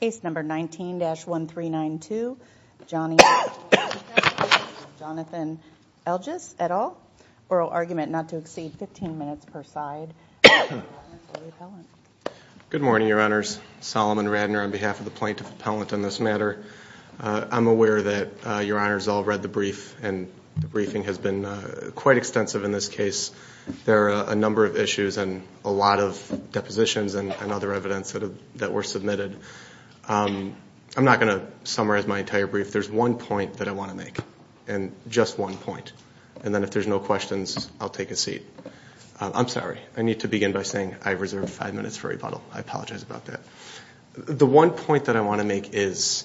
Case number 19-1392, Jonathan Elges, et al., oral argument not to exceed 15 minutes per side. Good morning, Your Honors. Solomon Radner on behalf of the Plaintiff Appellant on this matter. I'm aware that Your Honors all read the brief and the briefing has been quite extensive in this case. There are a number of issues and a lot of depositions and other evidence that were submitted. I'm not going to summarize my entire brief. There's one point that I want to make, and just one point. And then if there's no questions, I'll take a seat. I'm sorry. I need to begin by saying I've reserved five minutes for rebuttal. I apologize about that. The one point that I want to make is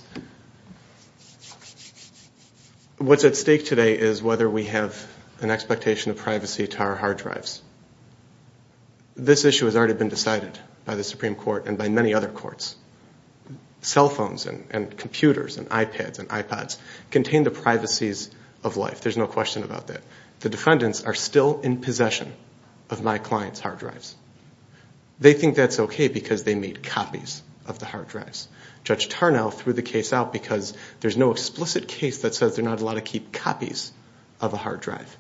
what's at stake today is whether we have an expectation of privacy to our hard drives. This issue has already been decided by the Supreme Court and by many other courts. Cell phones and computers and iPads and iPods contain the privacies of life. There's no question about that. The defendants are still in possession of my client's hard drives. They think that's okay because they made copies of the hard drives. Judge Tarnow threw the case out because there's no explicit case that says they're not allowed to keep copies of a hard drive.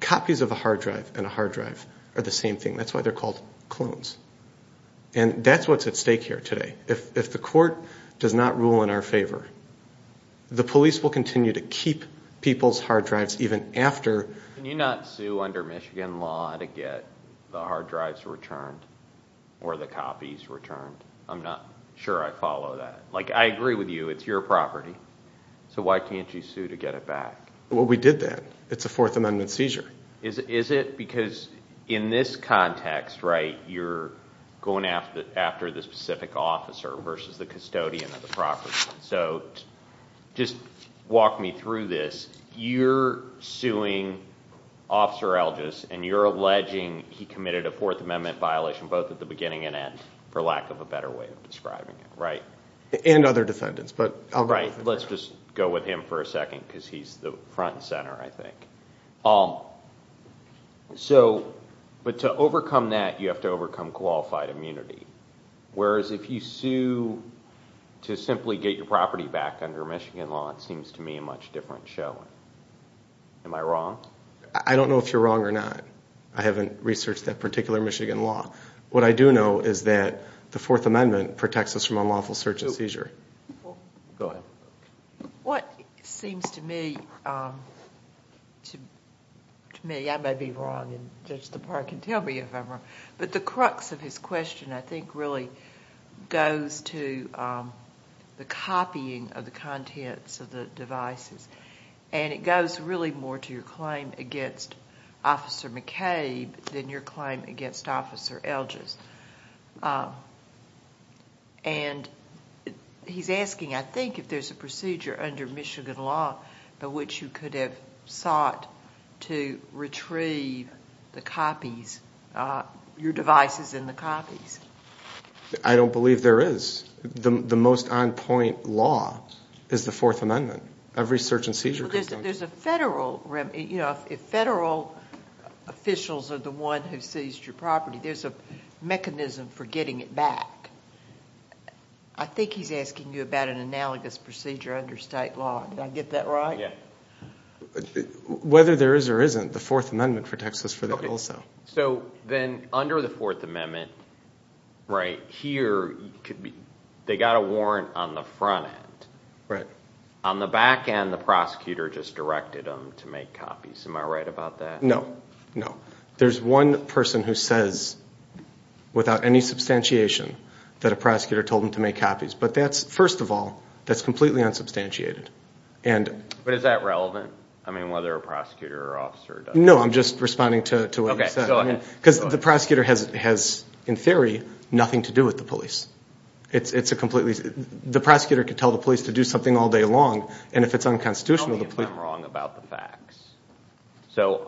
Copies of a hard drive and a hard drive are the same thing. That's why they're called clones. And that's what's at stake here today. If the court does not rule in our favor, the police will continue to keep people's hard drives even after... ...the hard drives are returned or the copies returned. I'm not sure I follow that. I agree with you. It's your property. So why can't you sue to get it back? Well, we did that. It's a Fourth Amendment seizure. Is it? Because in this context, you're going after the specific officer versus the custodian of the property. Just walk me through this. You're suing Officer Algis and you're alleging he committed a Fourth Amendment violation both at the beginning and end, for lack of a better way of describing it. And other defendants. Let's just go with him for a second because he's the front and center, I think. But to overcome that, you have to overcome qualified immunity. Whereas if you sue to simply get your property back under Michigan law, it seems to me a much different show. Am I wrong? I don't know if you're wrong or not. I haven't researched that particular Michigan law. What I do know is that the Fourth Amendment protects us from unlawful search and seizure. Go ahead. What seems to me... to me, I may be wrong and Judge Lepar can tell me if I'm wrong. But the crux of his question, I think, really goes to the copying of the contents of the devices. And it goes really more to your claim against Officer McCabe than your claim against Officer Algis. And he's asking, I think, if there's a procedure under Michigan law by which you could have sought to retrieve the copies, your devices and the copies. I don't believe there is. The most on point law is the Fourth Amendment. Every search and seizure comes... There's a mechanism for getting it back. I think he's asking you about an analogous procedure under state law. Did I get that right? Yeah. Whether there is or isn't, the Fourth Amendment protects us for that also. So then under the Fourth Amendment, right here, they got a warrant on the front end. On the back end, the prosecutor just directed them to make copies. Am I right about that? No. No. There's one person who says, without any substantiation, that a prosecutor told them to make copies. But that's, first of all, that's completely unsubstantiated. But is that relevant? I mean, whether a prosecutor or officer does that. No, I'm just responding to what you said. Because the prosecutor has, in theory, nothing to do with the police. The prosecutor could tell the police to do something all day long, and if it's unconstitutional...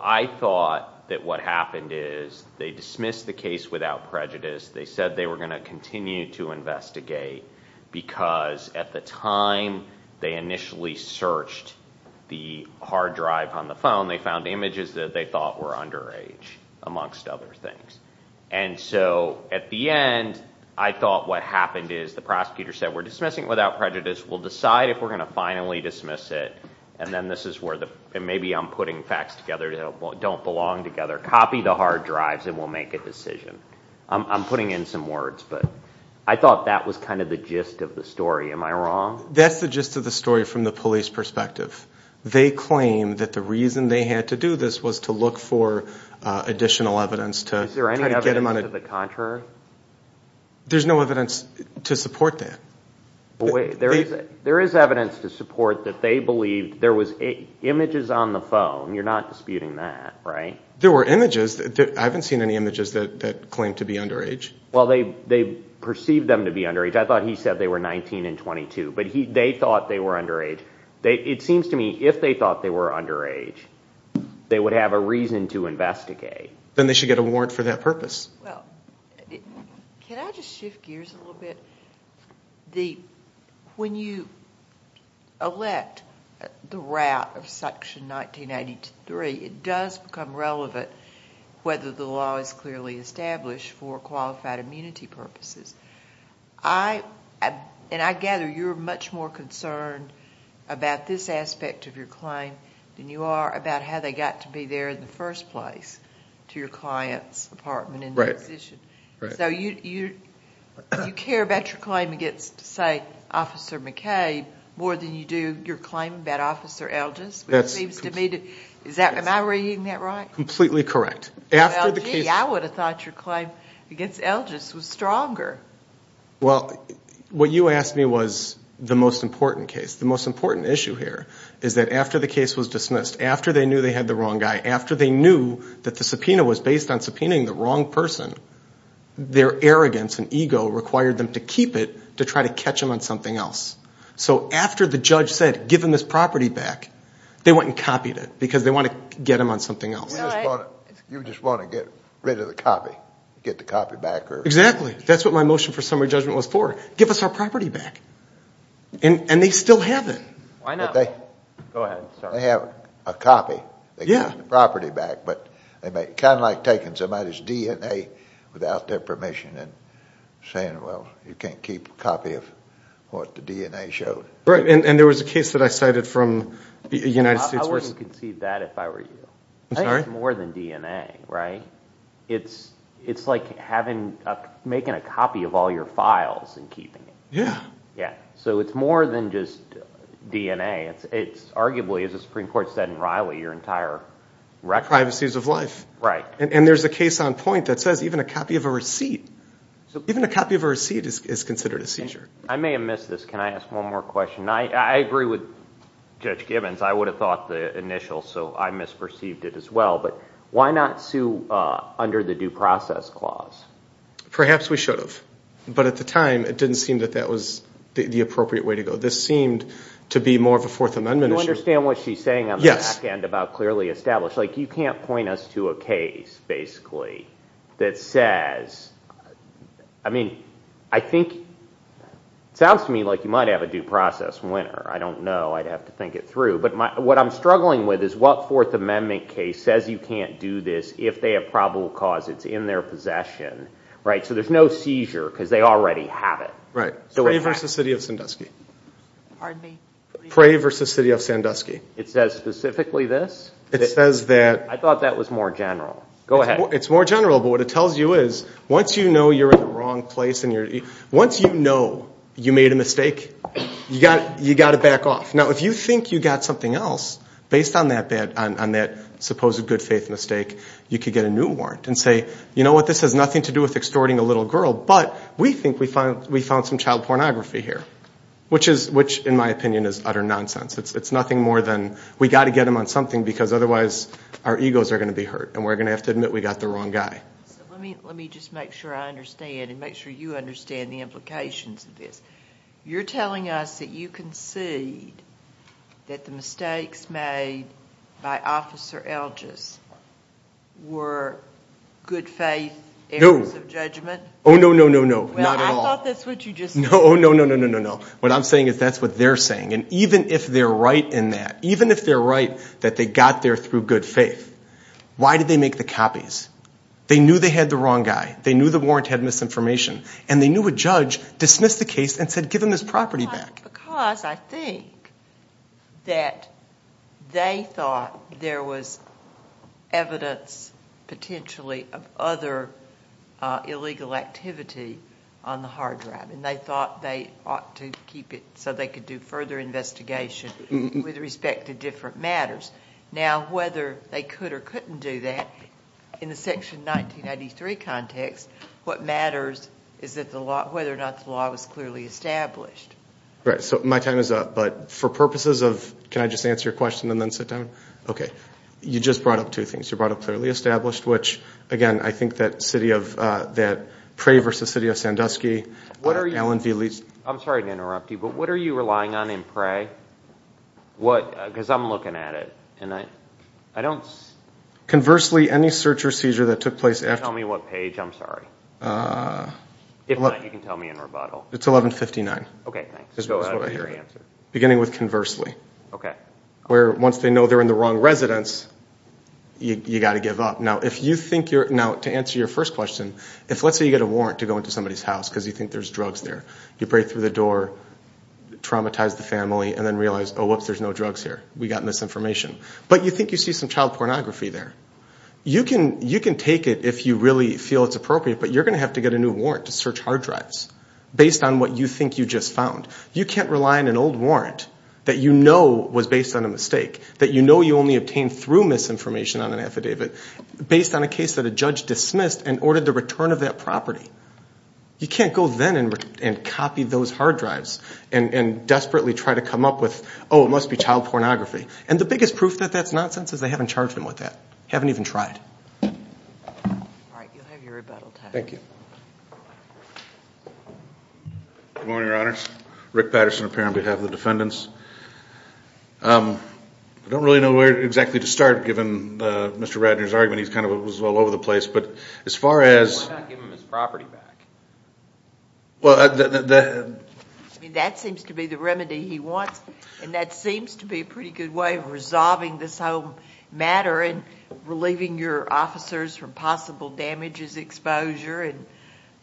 I thought that what happened is, they dismissed the case without prejudice. They said they were going to continue to investigate, because at the time they initially searched the hard drive on the phone... They found images that they thought were underage, amongst other things. And so, at the end, I thought what happened is, the prosecutor said, we're dismissing it without prejudice. We'll decide if we're going to finally dismiss it. And then, this is where the... and maybe I'm putting facts together that don't belong together. Copy the hard drives, and we'll make a decision. I'm putting in some words, but I thought that was kind of the gist of the story. Am I wrong? That's the gist of the story, from the police perspective. They claim that the reason they had to do this was to look for additional evidence to... Is there any evidence to the contrary? There's no evidence to support that. There is evidence to support that they believed there was images on the phone. You're not disputing that, right? There were images. I haven't seen any images that claim to be underage. Well, they perceived them to be underage. I thought he said they were 19 and 22. But, they thought they were underage. It seems to me, if they thought they were underage, they would have a reason to investigate. Then, they should get a warrant for that purpose. Well, can I just shift gears a little bit? When you elect the route of Section 1983, it does become relevant whether the law is clearly established for qualified immunity purposes. I gather you're much more concerned about this aspect of your claim than you are about how they got to be there in the first place, to your client's apartment in that position. So, you care about your claim against, say, Officer McCabe more than you do your claim about Officer Elgis? Am I reading that right? Completely correct. Well, gee, I would have thought your claim against Elgis was stronger. Well, what you asked me was the most important case. The most important issue here is that after the case was dismissed, after they knew they had the wrong guy, after they knew that the subpoena was based on subpoenaing the wrong person, their arrogance and ego required them to keep it to try to catch him on something else. So, after the judge said, give him his property back, they went and copied it because they wanted to get him on something else. You just want to get rid of the copy. Get the copy back. Exactly. That's what my motion for summary judgment was for. Give us our property back. And, they still have it. Why not? Go ahead. They have a copy. They keep the property back. Kind of like taking somebody's DNA without their permission and saying, well, you can't keep a copy of what the DNA showed. And there was a case that I cited from the United States. I wouldn't concede that if I were you. I think it's more than DNA, right? It's like making a copy of all your files and keeping it. So, it's more than just DNA. It's arguably, as the Supreme Court said in Riley, your entire record. Privacies of life. And there's a case on point that says even a copy of a receipt is considered a seizure. I may have missed this. Can I ask one more question? I agree with Judge Gibbons. I would have thought the initial, so I misperceived it as well. But, why not sue under the due process clause? Perhaps we should have. But at the time, it didn't seem that that was the appropriate way to go. This seemed to be more of a Fourth Amendment issue. Do you understand what she's saying on the back end about clearly established? You can't point us to a case, basically, that says, I mean, I think, it sounds to me like you might have a due process winner. I don't know. I'd have to think it through. But what I'm struggling with is what Fourth Amendment case says you can't do this if they have probable cause. It's in their possession. So there's no seizure because they already have it. Pray v. City of Sandusky. Pardon me? Pray v. City of Sandusky. It says specifically this? I thought that was more general. Go ahead. It's more general, but what it tells you is once you know you're in the wrong place, once you know you made a mistake, you've got to back off. Now, if you think you got something else, based on that supposed good faith mistake, you could get a new warrant and say, you know what? This has nothing to do with extorting a little girl, but we think we found some child pornography here, which in my opinion is utter nonsense. It's nothing more than we've got to get him on something because otherwise our egos are going to be hurt and we're going to have to admit we got the wrong guy. Let me just make sure I understand and make sure you understand the implications of this. You're telling us that you concede that the mistakes made by Officer Elgis were good faith errors of judgment? No. Oh, no, no, no, no. Not at all. Well, I thought that's what you just said. No, no, no, no, no, no. What I'm saying is that's what they're saying, and even if they're right in that, even if they're right that they got there through good faith, why did they make the copies? They knew they had the wrong guy. They knew the warrant had misinformation, and they knew a judge dismissed the case and said give him his property back. Because I think that they thought there was evidence potentially of other illegal activity on the hard drive, and they thought they ought to keep it so they could do further investigation with respect to different matters. Now, whether they could or couldn't do that in the Section 1993 context, what matters is whether or not the law was clearly established. Right. So my time is up, but for purposes of, can I just answer your question and then sit down? Okay. You just brought up two things. You brought up clearly established, which, again, I think that Prey v. City of Sandusky, Allen v. Lee's I'm sorry to interrupt you, but what are you relying on in Prey? Because I'm looking at it, and I don't... Conversely, any search or seizure that took place after... Can you tell me what page? I'm sorry. If not, you can tell me in rebuttal. It's 1159. Okay, thanks. Beginning with conversely. Okay. Where once they know they're in the wrong residence, you've got to give up. Now, to answer your first question, let's say you get a warrant to go into somebody's house because you think there's drugs there. You break through the door, traumatize the family, and then realize, oh, whoops, there's no drugs here. We got misinformation. But you think you see some child pornography there. You can take it if you really feel it's appropriate, but you're going to have to get a new warrant to search hard drives based on what you think you just found. You can't rely on an old warrant that you know was based on a mistake, that you know you only obtained through misinformation on an affidavit, based on a case that a judge dismissed and ordered the return of that property. You can't go then and copy those hard drives and desperately try to come up with, oh, it must be child pornography. And the biggest proof that that's nonsense is they haven't charged him with that. They haven't even tried. All right, you'll have your rebuttal time. Thank you. Good morning, Your Honors. Rick Patterson here on behalf of the defendants. I don't really know where exactly to start, given Mr. Ratner's argument. He's kind of all over the place, but as far as... Why not give him his property back? Well... I mean, that seems to be the remedy he wants, and that seems to be a pretty good way of resolving this whole matter and relieving your officers from possible damages, exposure, and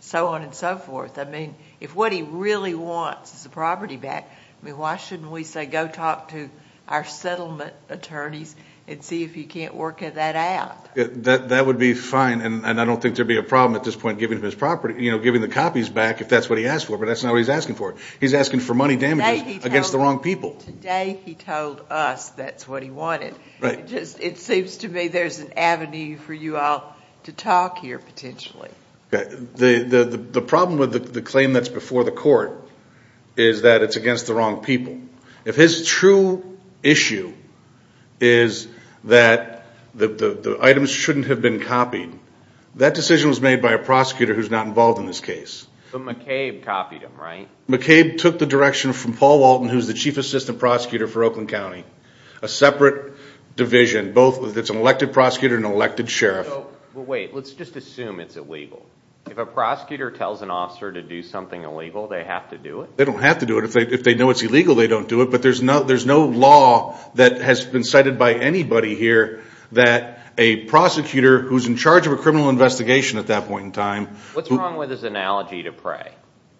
so on and so forth. I mean, if what he really wants is the property back, I mean, why shouldn't we say, go talk to our settlement attorneys and see if you can't work that out? That would be fine, and I don't think there'd be a problem at this point giving him his property, you know, giving the copies back if that's what he asked for, but that's not what he's asking for. He's asking for money damages against the wrong people. Today he told us that's what he wanted. Right. It seems to me there's an avenue for you all to talk here, potentially. The problem with the claim that's before the court is that it's against the wrong people. If his true issue is that the items shouldn't have been copied, that decision was made by a prosecutor who's not involved in this case. But McCabe copied them, right? McCabe took the direction from Paul Walton, who's the chief assistant prosecutor for Oakland County, a separate division, both an elected prosecutor and an elected sheriff. Wait, let's just assume it's illegal. If a prosecutor tells an officer to do something illegal, they have to do it? They don't have to do it. If they know it's illegal, they don't do it, but there's no law that has been cited by anybody here that a prosecutor who's in charge of a criminal investigation at that point in time What's wrong with his analogy to Prey?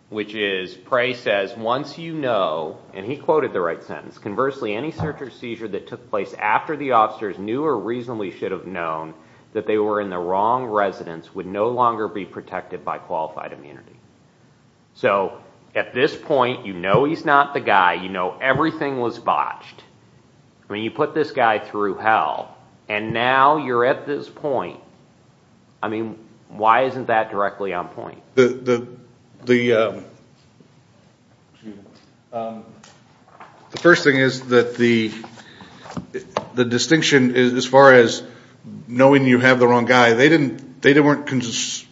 Which is, Prey says, once you know, and he quoted the right sentence, conversely, any search or seizure that took place after the officers knew or reasonably should have known that they were in the wrong residence would no longer be protected by qualified immunity. So, at this point, you know he's not the guy, you know everything was botched. I mean, you put this guy through hell, and now you're at this point. I mean, why isn't that directly on point? Well, the first thing is that the distinction is as far as knowing you have the wrong guy. They weren't convinced,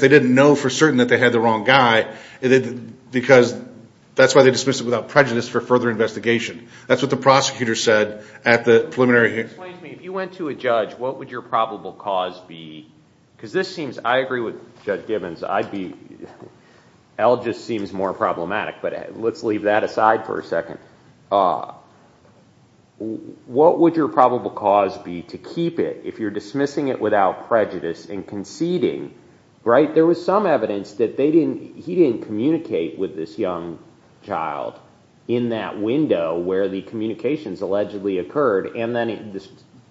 they didn't know for certain that they had the wrong guy because that's why they dismissed it without prejudice for further investigation. That's what the prosecutor said at the preliminary hearing. Explain to me, if you went to a judge, what would your probable cause be? Because this seems, I agree with Judge Gibbons, L just seems more problematic, but let's leave that aside for a second. What would your probable cause be to keep it if you're dismissing it without prejudice and conceding, right? There was some evidence that he didn't communicate with this young child in that window where the communications allegedly occurred, and then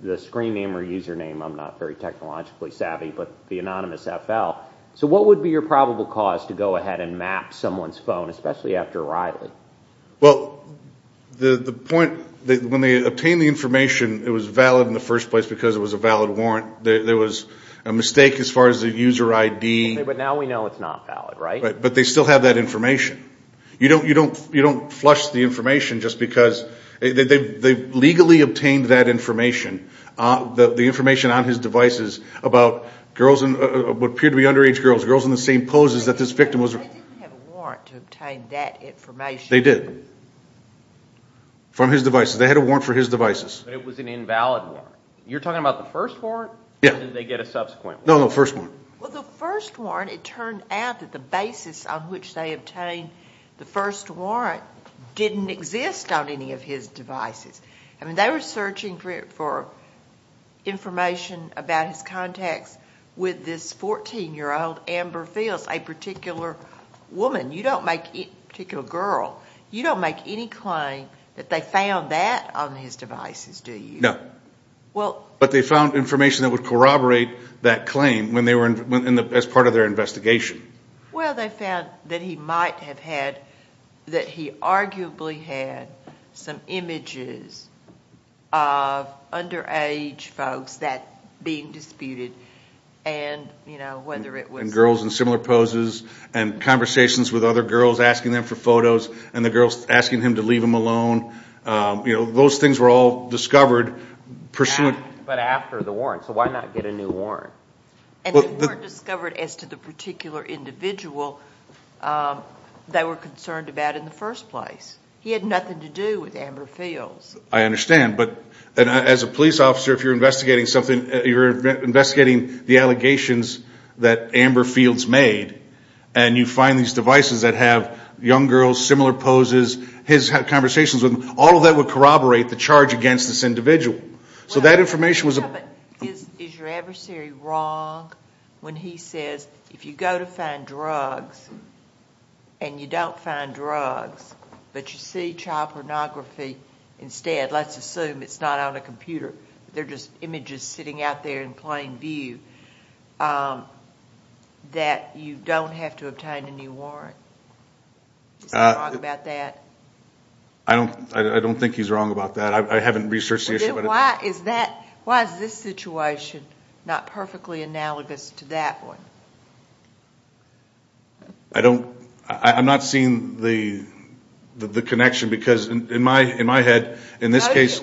the screen name or username, I'm not very technologically savvy, but the anonymous FL. So what would be your probable cause to go ahead and map someone's phone, especially after Riley? Well, the point, when they obtained the information, it was valid in the first place because it was a valid warrant. There was a mistake as far as the user ID. But now we know it's not valid, right? But they still have that information. You don't flush the information just because they've legally obtained that information, the information on his devices about girls, what appeared to be underage girls, girls in the same poses that this victim was... But they didn't have a warrant to obtain that information. They did. From his devices. They had a warrant for his devices. But it was an invalid warrant. You're talking about the first warrant? Yeah. Or did they get a subsequent warrant? No, no, first warrant. Well, the first warrant, it turned out that the basis on which they obtained the first warrant didn't exist on any of his devices. I mean, they were searching for information about his contacts with this 14-year-old Amber Fields, a particular woman, a particular girl. You don't make any claim that they found that on his devices, do you? Well... But they found information that would corroborate that claim as part of their investigation. Well, they found that he might have had, that he arguably had some images of underage folks that being disputed and, you know, whether it was... And girls in similar poses and conversations with other girls asking them for photos and the girls asking him to leave them alone. You know, those things were all discovered pursuant... But after the warrant, so why not get a new warrant? And they weren't discovered as to the particular individual they were concerned about in the first place. He had nothing to do with Amber Fields. I understand, but as a police officer, if you're investigating something, you're investigating the allegations that Amber Fields made and you find these devices that have young girls, similar poses, his conversations with them, all of that would corroborate the charge against this individual. So that information was... But is your adversary wrong when he says, if you go to find drugs and you don't find drugs, but you see child pornography instead, let's assume it's not on a computer, they're just images sitting out there in plain view, that you don't have to obtain a new warrant? Is he wrong about that? I don't think he's wrong about that. I haven't researched the issue. Why is this situation not perfectly analogous to that one? I'm not seeing the connection because in my head, in this case...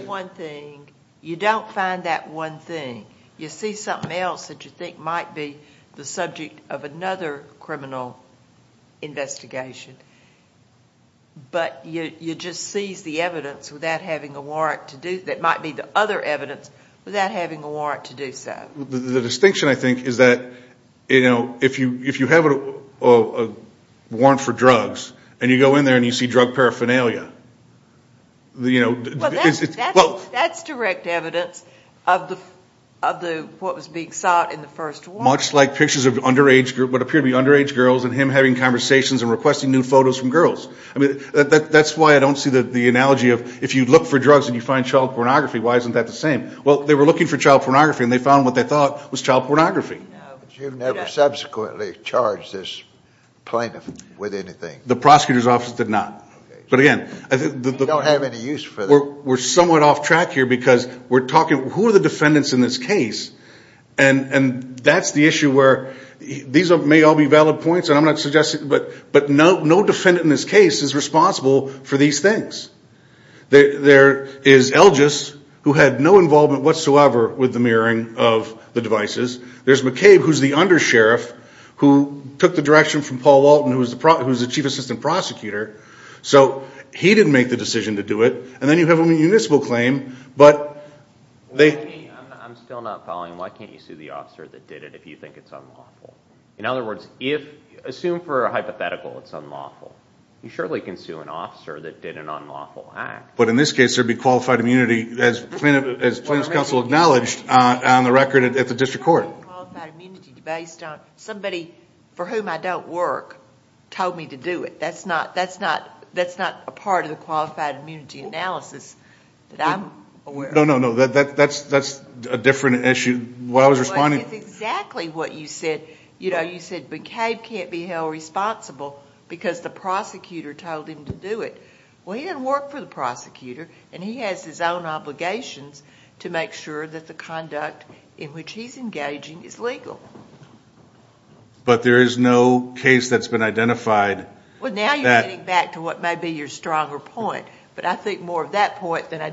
You don't find that one thing. You see something else that you think might be the subject of another criminal investigation. But you just seize the evidence without having a warrant to do... That might be the other evidence without having a warrant to do so. The distinction, I think, is that if you have a warrant for drugs and you go in there and you see drug paraphernalia... Well, that's direct evidence of what was being sought in the first ward. Much like pictures of what appear to be underage girls and him having conversations and requesting new photos from girls. That's why I don't see the analogy of if you look for drugs and you find child pornography, why isn't that the same? Well, they were looking for child pornography and they found what they thought was child pornography. But you've never subsequently charged this plaintiff with anything. The prosecutor's office did not. You don't have any use for them. We're somewhat off track here because we're talking... Who are the defendants in this case? And that's the issue where... These may all be valid points, and I'm not suggesting... But no defendant in this case is responsible for these things. There is Elgis, who had no involvement whatsoever with the mirroring of the devices. There's McCabe, who's the undersheriff, who took the direction from Paul Walton, who was the chief assistant prosecutor. So he didn't make the decision to do it. And then you have a municipal claim, but they... Attorney, I'm still not following. Why can't you sue the officer that did it if you think it's unlawful? In other words, assume for a hypothetical it's unlawful. You surely can sue an officer that did an unlawful act. But in this case, there'd be qualified immunity, as plaintiff's counsel acknowledged, on the record at the district court. Qualified immunity based on somebody for whom I don't work told me to do it. That's not a part of the qualified immunity analysis that I'm aware of. No, no, no, that's a different issue. What I was responding... It's exactly what you said. You said McCabe can't be held responsible because the prosecutor told him to do it. Well, he didn't work for the prosecutor, and he has his own obligations to make sure that the conduct in which he's engaging is legal. But there is no case that's been identified... Well, now you're getting back to what may be your stronger point. But I think more of that point and I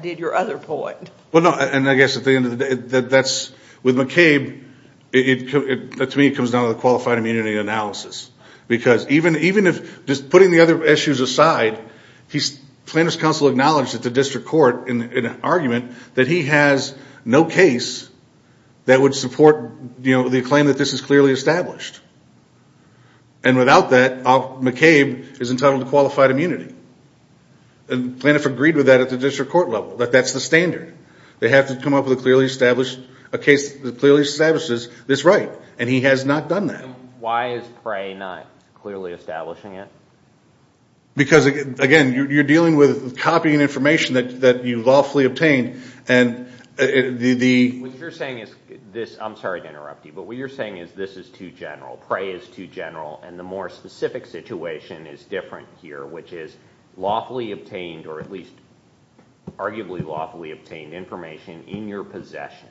guess at the end of the day, with McCabe, to me it comes down to the qualified immunity analysis. Because even if... Just putting the other issues aside, plaintiff's counsel acknowledged at the district court in an argument that he has no case that would support the claim that this is clearly established. And without that, McCabe is entitled to qualified immunity. And plaintiff agreed with that at the district court level. They have to come up with a case that clearly establishes this right. And he has not done that. Why is PRAE not clearly establishing it? Because, again, you're dealing with copying information that you lawfully obtained. And the... What you're saying is this... I'm sorry to interrupt you, but what you're saying is this is too general. PRAE is too general. And the more specific situation is different here, which is lawfully obtained or at least arguably lawfully obtained information in your possession,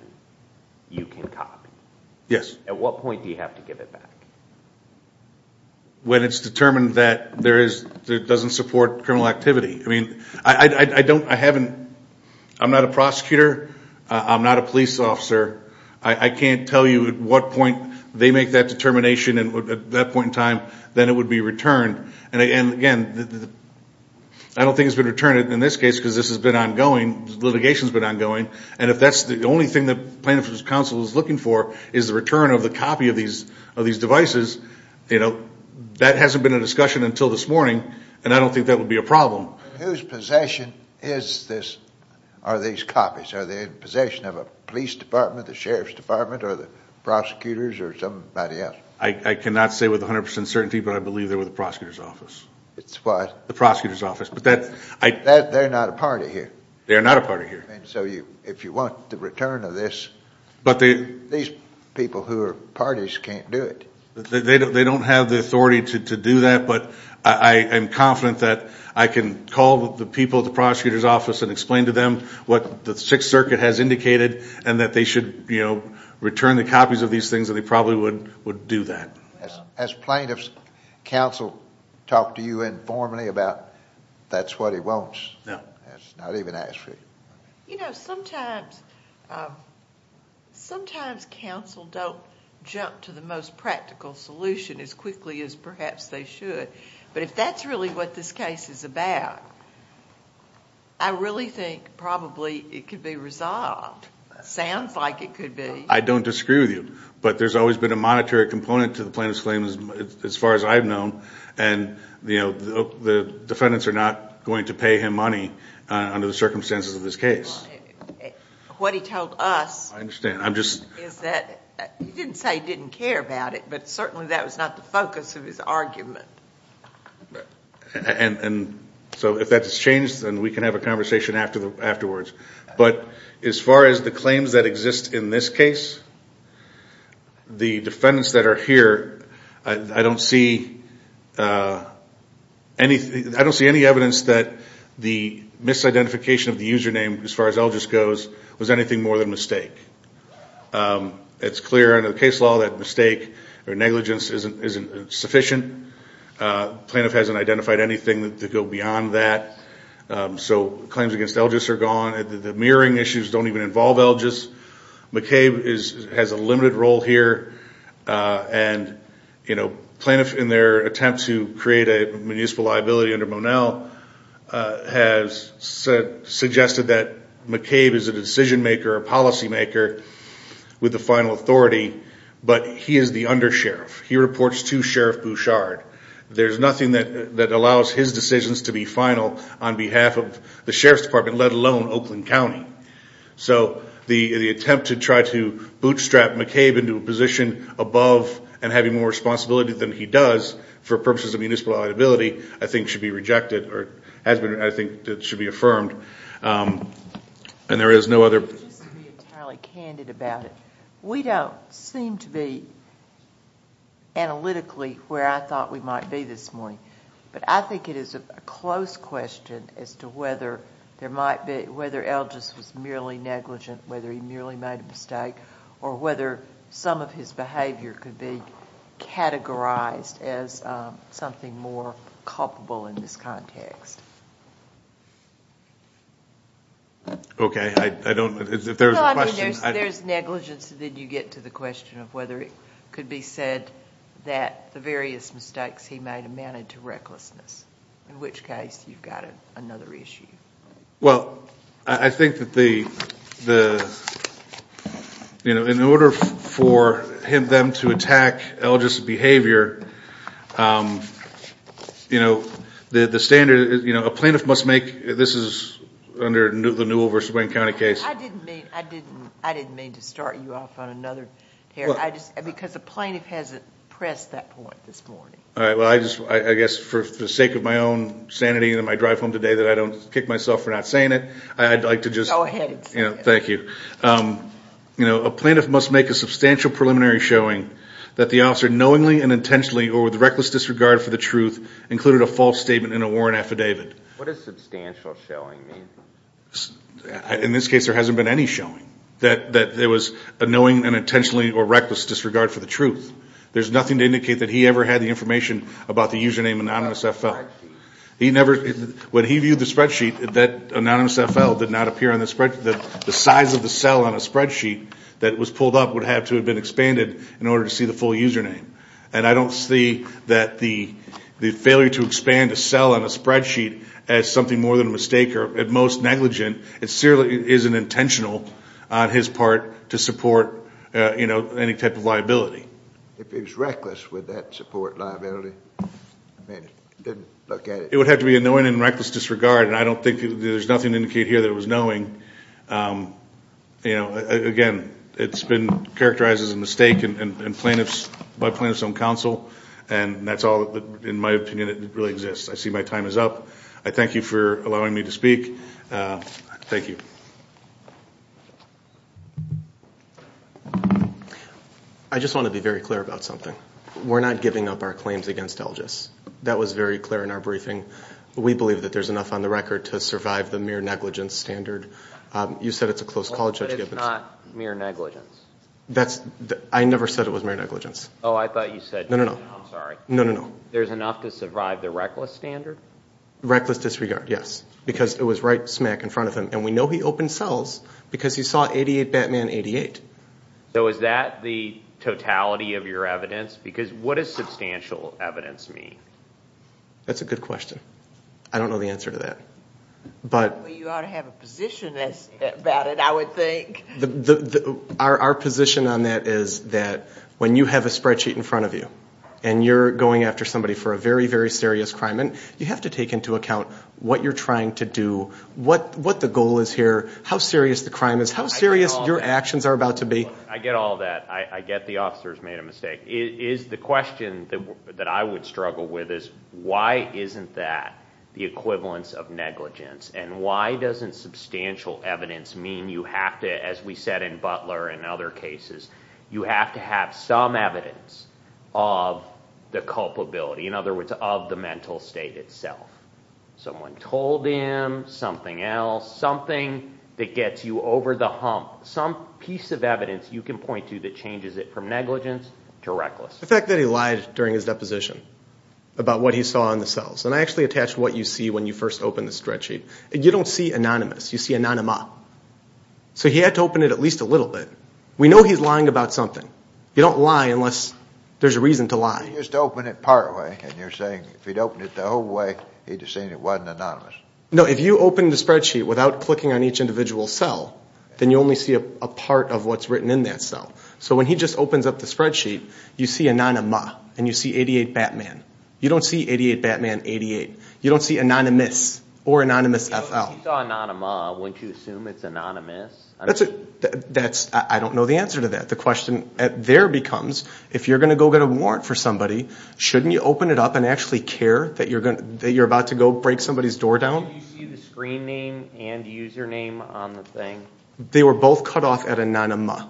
you can copy. At what point do you have to give it back? When it's determined that it doesn't support criminal activity. I mean, I don't... I haven't... I'm not a prosecutor. I'm not a police officer. I can't tell you at what point they make that determination and at that point in time then it would be returned. In this case, because this has been ongoing, litigation's been ongoing, and if that's the only thing the plaintiff's counsel is looking for is the return of the copy of these devices, you know, that hasn't been a discussion until this morning, and I don't think that would be a problem. Whose possession is this... are these copies? Are they in possession of a police department, the sheriff's department, or the prosecutors, or somebody else? I cannot say with 100% certainty, but I believe they're with the prosecutor's office. They're not a party here. They're not a party here. So if you want the return of this, these people who are parties can't do it. They don't have the authority to do that, but I am confident that I can call the people at the prosecutor's office and explain to them what the Sixth Circuit has indicated and that they should, you know, return the copies of these things and they probably would do that. Has plaintiff's counsel talked to you informally about this? No, not even asked for it. You know, sometimes, sometimes counsel don't jump to the most practical solution as quickly as perhaps they should, but if that's really what this case is about, I really think probably it could be resolved. Sounds like it could be. I don't disagree with you, but there's always been a monetary component to the plaintiff's claim as far as I've known, and, you know, the defendants are not going to pay him money under the circumstances of this case. Well, what he told us... I understand. I'm just... ...is that he didn't say he didn't care about it, but certainly that was not the focus of his argument. Right. And so if that's changed, then we can have a conversation afterwards, but as far as the claims that exist in this case, the defendants that are here, I don't see anything, I don't see evidence that the misidentification of the username as far as Elgis goes was anything more than a mistake. It's clear under the case law that mistake or negligence isn't sufficient. The plaintiff hasn't identified anything to go beyond that, so claims against Elgis are gone. The mirroring issues don't even involve Elgis. McCabe has a limited role here, and, you know, plaintiffs in their attempt to create a municipal liability under Monell have suggested that McCabe is a decision-maker, a policymaker with the final authority, but he is the undersheriff. He reports to Sheriff Bouchard. There's nothing that allows his decisions to be final on behalf of the Sheriff's Department, let alone Oakland County. So the attempt to try to bootstrap McCabe into a position above and having more responsibility than he does versus a municipal liability, I think should be rejected, or I think should be affirmed, and there is no other... Just to be entirely candid about it, we don't seem to be analytically where I thought we might be this morning, but I think it is a close question as to whether Elgis was merely negligent, whether he merely made a mistake, or whether some of his behavior could be categorized as something more culpable in this context. Okay, I don't... If there's a question... No, I mean, there's negligence, then you get to the question of whether it could be said that the various mistakes he made amounted to recklessness, in which case you've got another issue. Well, I think that the... You know, in order for them to attack Elgis's behavior, you know, the standard... You know, a plaintiff must make... This is under the Newell v. Wayne County case. I didn't mean to start you off on another, because a plaintiff hasn't pressed that point this morning. All right, well, I guess for the sake of my own sanity and my drive home today that I don't kick myself for not saying it, I'd like to just... Go ahead. Thank you. You know, a plaintiff must make a substantial preliminary showing that the reckless disregard for the truth included a false statement in a warrant affidavit. What does substantial showing mean? In this case, there hasn't been any showing that there was a knowing and intentionally or reckless disregard for the truth. There's nothing to indicate that he ever had the information about the username AnonymousFL. When he viewed the spreadsheet, that AnonymousFL did not appear on the spreadsheet. The size of the cell on a spreadsheet that was pulled up would have to have been expanded in order to see the full username. And I don't see that the failure to expand a cell on a spreadsheet as something more than a mistake or at most negligent, it certainly isn't intentional on his part to support, you know, any type of liability. If it was reckless, would that support liability? I mean, I didn't look at it. It would have to be a knowing and reckless disregard, and I don't think there's nothing to indicate here that it was knowing. You know, again, it's been characterized as a mistake, and plaintiffs, by plaintiffs on counsel, and that's all, in my opinion, it really exists. I see my time is up. I thank you for allowing me to speak. Thank you. I just want to be very clear about something. We're not giving up our claims against Algis. That was very clear in our briefing. We believe that there's enough on the record to survive the mere negligence standard. You said it's a close call, Judge Gibbons. But it's not mere negligence. That's, I never said it was mere negligence. Oh, I thought you said... No, no, no. I'm sorry. No, no, no. There's enough to survive the reckless standard? Reckless disregard, yes. Because it was right smack in front of him, and we know he opened cells because he saw 88 Batman 88. So is that the totality of your evidence? Because what does substantial evidence mean? That's a good question. I don't know the answer to that. Well, you ought to have a position about it, I would think. Our position on that is that when you have a spreadsheet in front of you and you're going after somebody for a very, very serious crime, you have to take into account what you're trying to do, what the goal is here, how serious the crime is, how serious your actions are about to be. I get all that. I get the officers made a mistake. The question that I would struggle with is why isn't that the equivalence of negligence? And why doesn't substantial evidence mean you have to, as we said in Butler and other cases, some evidence of the culpability, in other words, of the mental state itself? Someone told him something else, something that gets you over the hump, some piece of evidence you can point to that changes it from negligence to reckless. The fact that he lied during his deposition about what he saw in the cells, and I actually attached what you see when you first open the spreadsheet. You don't see anonymous, you see anonymo. So he had to open it at least a little bit. We know he's lying about something. You can't lie unless there's a reason to lie. He just opened it partway, and you're saying if he'd opened it the whole way, he'd have seen it wasn't anonymous. No, if you open the spreadsheet without clicking on each individual cell, then you only see a part of what's written in that cell. So when he just opens up the spreadsheet, you see anonymo, and you see 88 Batman. You don't see 88 Batman 88. You don't see anonymous or anonymous FL. If you saw anonymo, wouldn't you assume it's anonymous? I don't know the answer to that. If you're going to go get a warrant for somebody, shouldn't you open it up and actually care that you're about to go break somebody's door down? Did you see the screen name and username on the thing? They were both cut off at anonymo.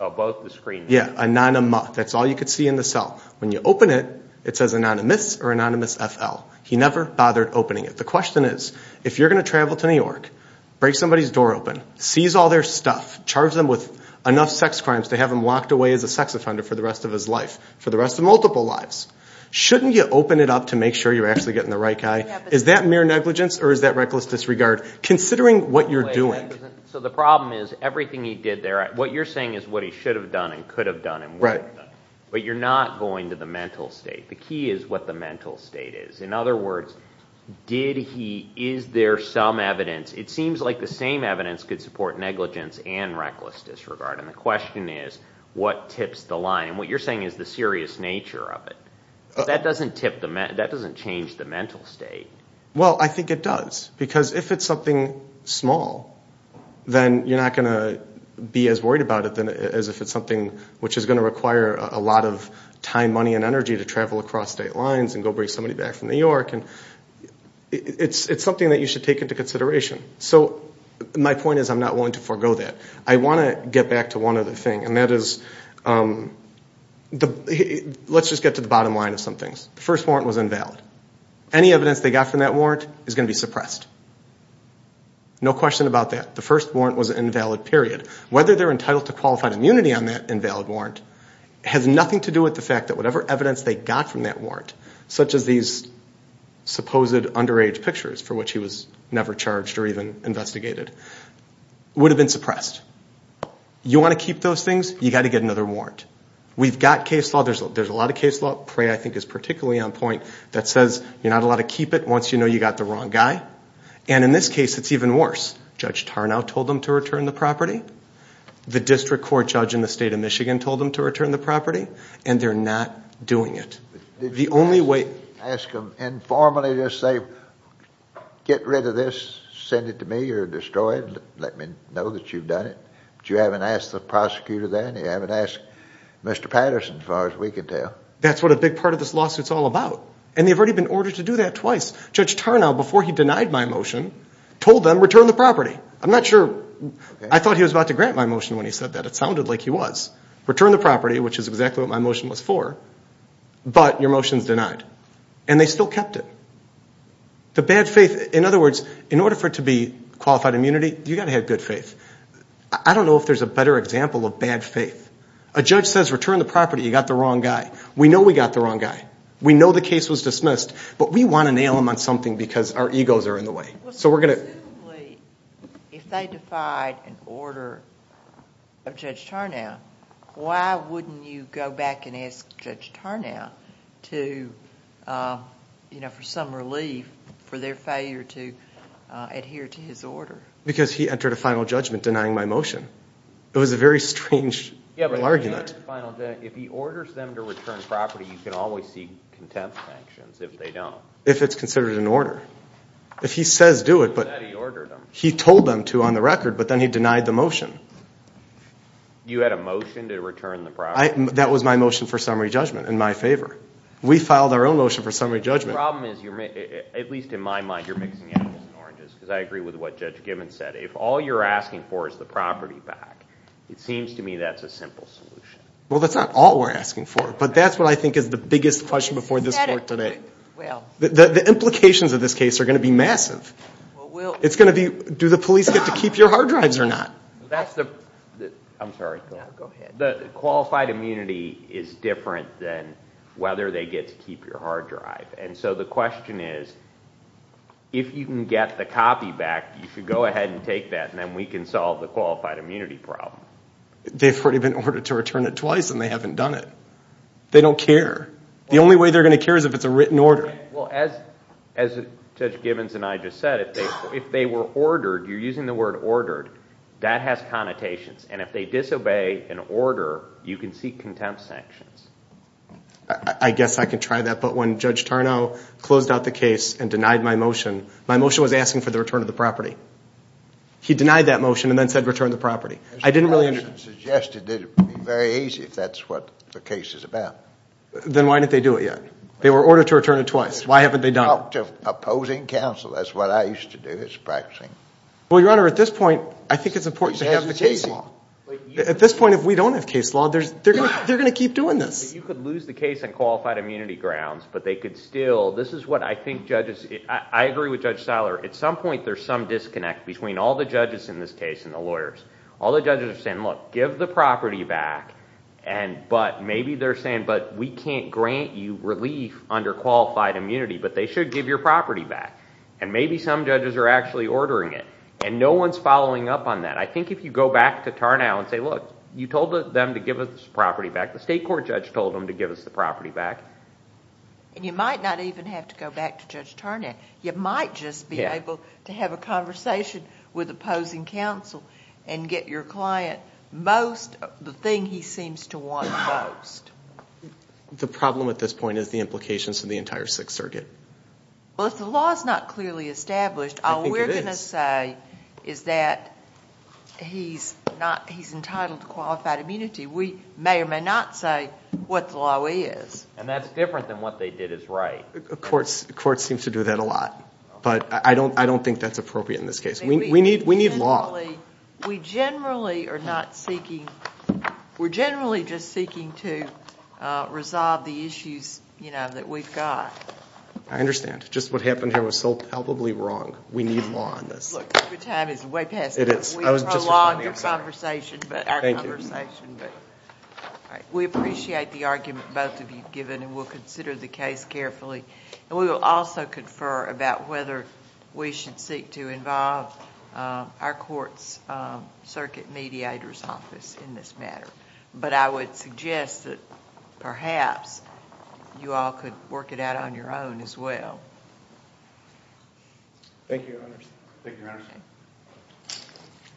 Oh, both the screen names? Yeah, anonymo. That's all you could see in the cell. When you open it, it says anonymous or anonymous FL. He never bothered opening it. The question is, if you're going to travel to New York, break somebody's door open, seize all their stuff, for the rest of his life, for the rest of multiple lives, shouldn't you open it up to make sure you're actually getting the right guy? Is that mere negligence, or is that reckless disregard, considering what you're doing? So the problem is, everything he did there, what you're saying is what he should have done and could have done and would have done. Right. But you're not going to the mental state. The key is what the mental state is. In other words, what you're saying is the serious nature of it. That doesn't change the mental state. Well, I think it does. Because if it's something small, then you're not going to be as worried about it as if it's something which is going to require a lot of time, money, and energy to travel across state lines and go bring somebody back from New York. It's something that you should take into consideration. So my point is, I'm not going to forego that. I want to get back to one other thing, and that is, let's just get to the bottom line of some things. The first warrant was invalid. Any evidence they got from that warrant is going to be suppressed. No question about that. The first warrant was an invalid, period. Whether they're entitled to qualified immunity on that invalid warrant has nothing to do with the fact that whatever evidence they got from that warrant, such as these supposed underage pictures for which he was never charged or even investigated, would have been suppressed. You want to keep those things? You've got to get another warrant. We've got case law. There's a lot of case law. Prey, I think, is particularly on point that says you're not allowed to keep it once you know you've got the wrong guy. And in this case, it's even worse. Judge Tarnow told them to return the property. The district court judge in the state of Michigan told them to return the property, and they're not doing it. The only way... Did you ask them informally to say, go ahead and let me know that you've done it? But you haven't asked the prosecutor then? You haven't asked Mr. Patterson, as far as we can tell? That's what a big part of this lawsuit's all about. And they've already been ordered to do that twice. Judge Tarnow, before he denied my motion, told them, return the property. I'm not sure... I thought he was about to grant my motion when he said that. Return the property, which is exactly what my motion was for, but your motion's denied. You've got to have good faith. I don't know if there's a better example of bad faith. A judge says, return the property, you've got the wrong guy. We know we've got the wrong guy. We know the case was dismissed, but we want to nail them on something because our egos are in the way. So we're going to... If they defied an order of Judge Tarnow, why wouldn't you go back and ask Judge Tarnow for some relief for their failure to adhere to his order? Because he entered a final judgment denying my motion. It was a very strange argument. If he orders them to return property, you can always see contempt sanctions if they don't. If it's considered an order. If he says do it, he told them to on the record, but then he denied the motion. You had a motion to return the property? That was my motion for summary judgment in my favor. We filed our own motion for summary judgment. The problem is, at least in my mind, if all you're asking for is the property back, it seems to me that's a simple solution. Well, that's not all we're asking for, but that's what I think is the biggest question before this court today. The implications of this case are going to be massive. It's going to be, do the police get to keep your hard drives or not? I'm sorry. Go ahead. The qualified immunity is different than whether they get to keep your hard drive. And so the question is, if you can get the copy back, then we can take that and then we can solve the qualified immunity problem. They've already been ordered to return it twice and they haven't done it. They don't care. The only way they're going to care is if it's a written order. Well, as Judge Givens and I just said, if they were ordered, you're using the word ordered, that has connotations. And if they disobey an order, you can seek contempt sanctions. I guess I can try that, but when Judge Tarnow closed out the case he denied that motion and then said return the property. I didn't really understand. The motion suggested it would be very easy if that's what the case is about. Then why didn't they do it yet? They were ordered to return it twice. Why haven't they done it? Opposing counsel, that's what I used to do, is practicing. Well, Your Honor, at this point I think it's important to have the case law. At this point, all the judges in this case and the lawyers, all the judges are saying, look, give the property back, but maybe they're saying, but we can't grant you relief under qualified immunity, but they should give your property back. And maybe some judges are actually ordering it. And no one's following up on that. I think if you go back to Tarnow and say, look, you told them to give us the property back. The state court judge told them to give us the property back. Opposing counsel, and get your client most the thing he seems to want most. The problem at this point is the implications for the entire Sixth Circuit. Well, if the law is not clearly established, all we're going to say is that he's entitled to qualified immunity. We may or may not say what the law is. And that's different than what they did is right. The court seems to do that a lot. But I don't think that's appropriate in this case. We need law. We generally are not seeking, we're generally just seeking to resolve the issues that we've got. I understand. Just what happened here was so palpably wrong. We need law on this. Look, your time is way past. We prolonged our conversation. Thank you. We appreciate the argument both of you have given, and we'll consider the case carefully. And we will also confer about whether we should seek our court's circuit mediator's office in this matter. But I would suggest that perhaps you all could work it out on your own as well. Thank you, Your Honors. Thank you, Your Honors.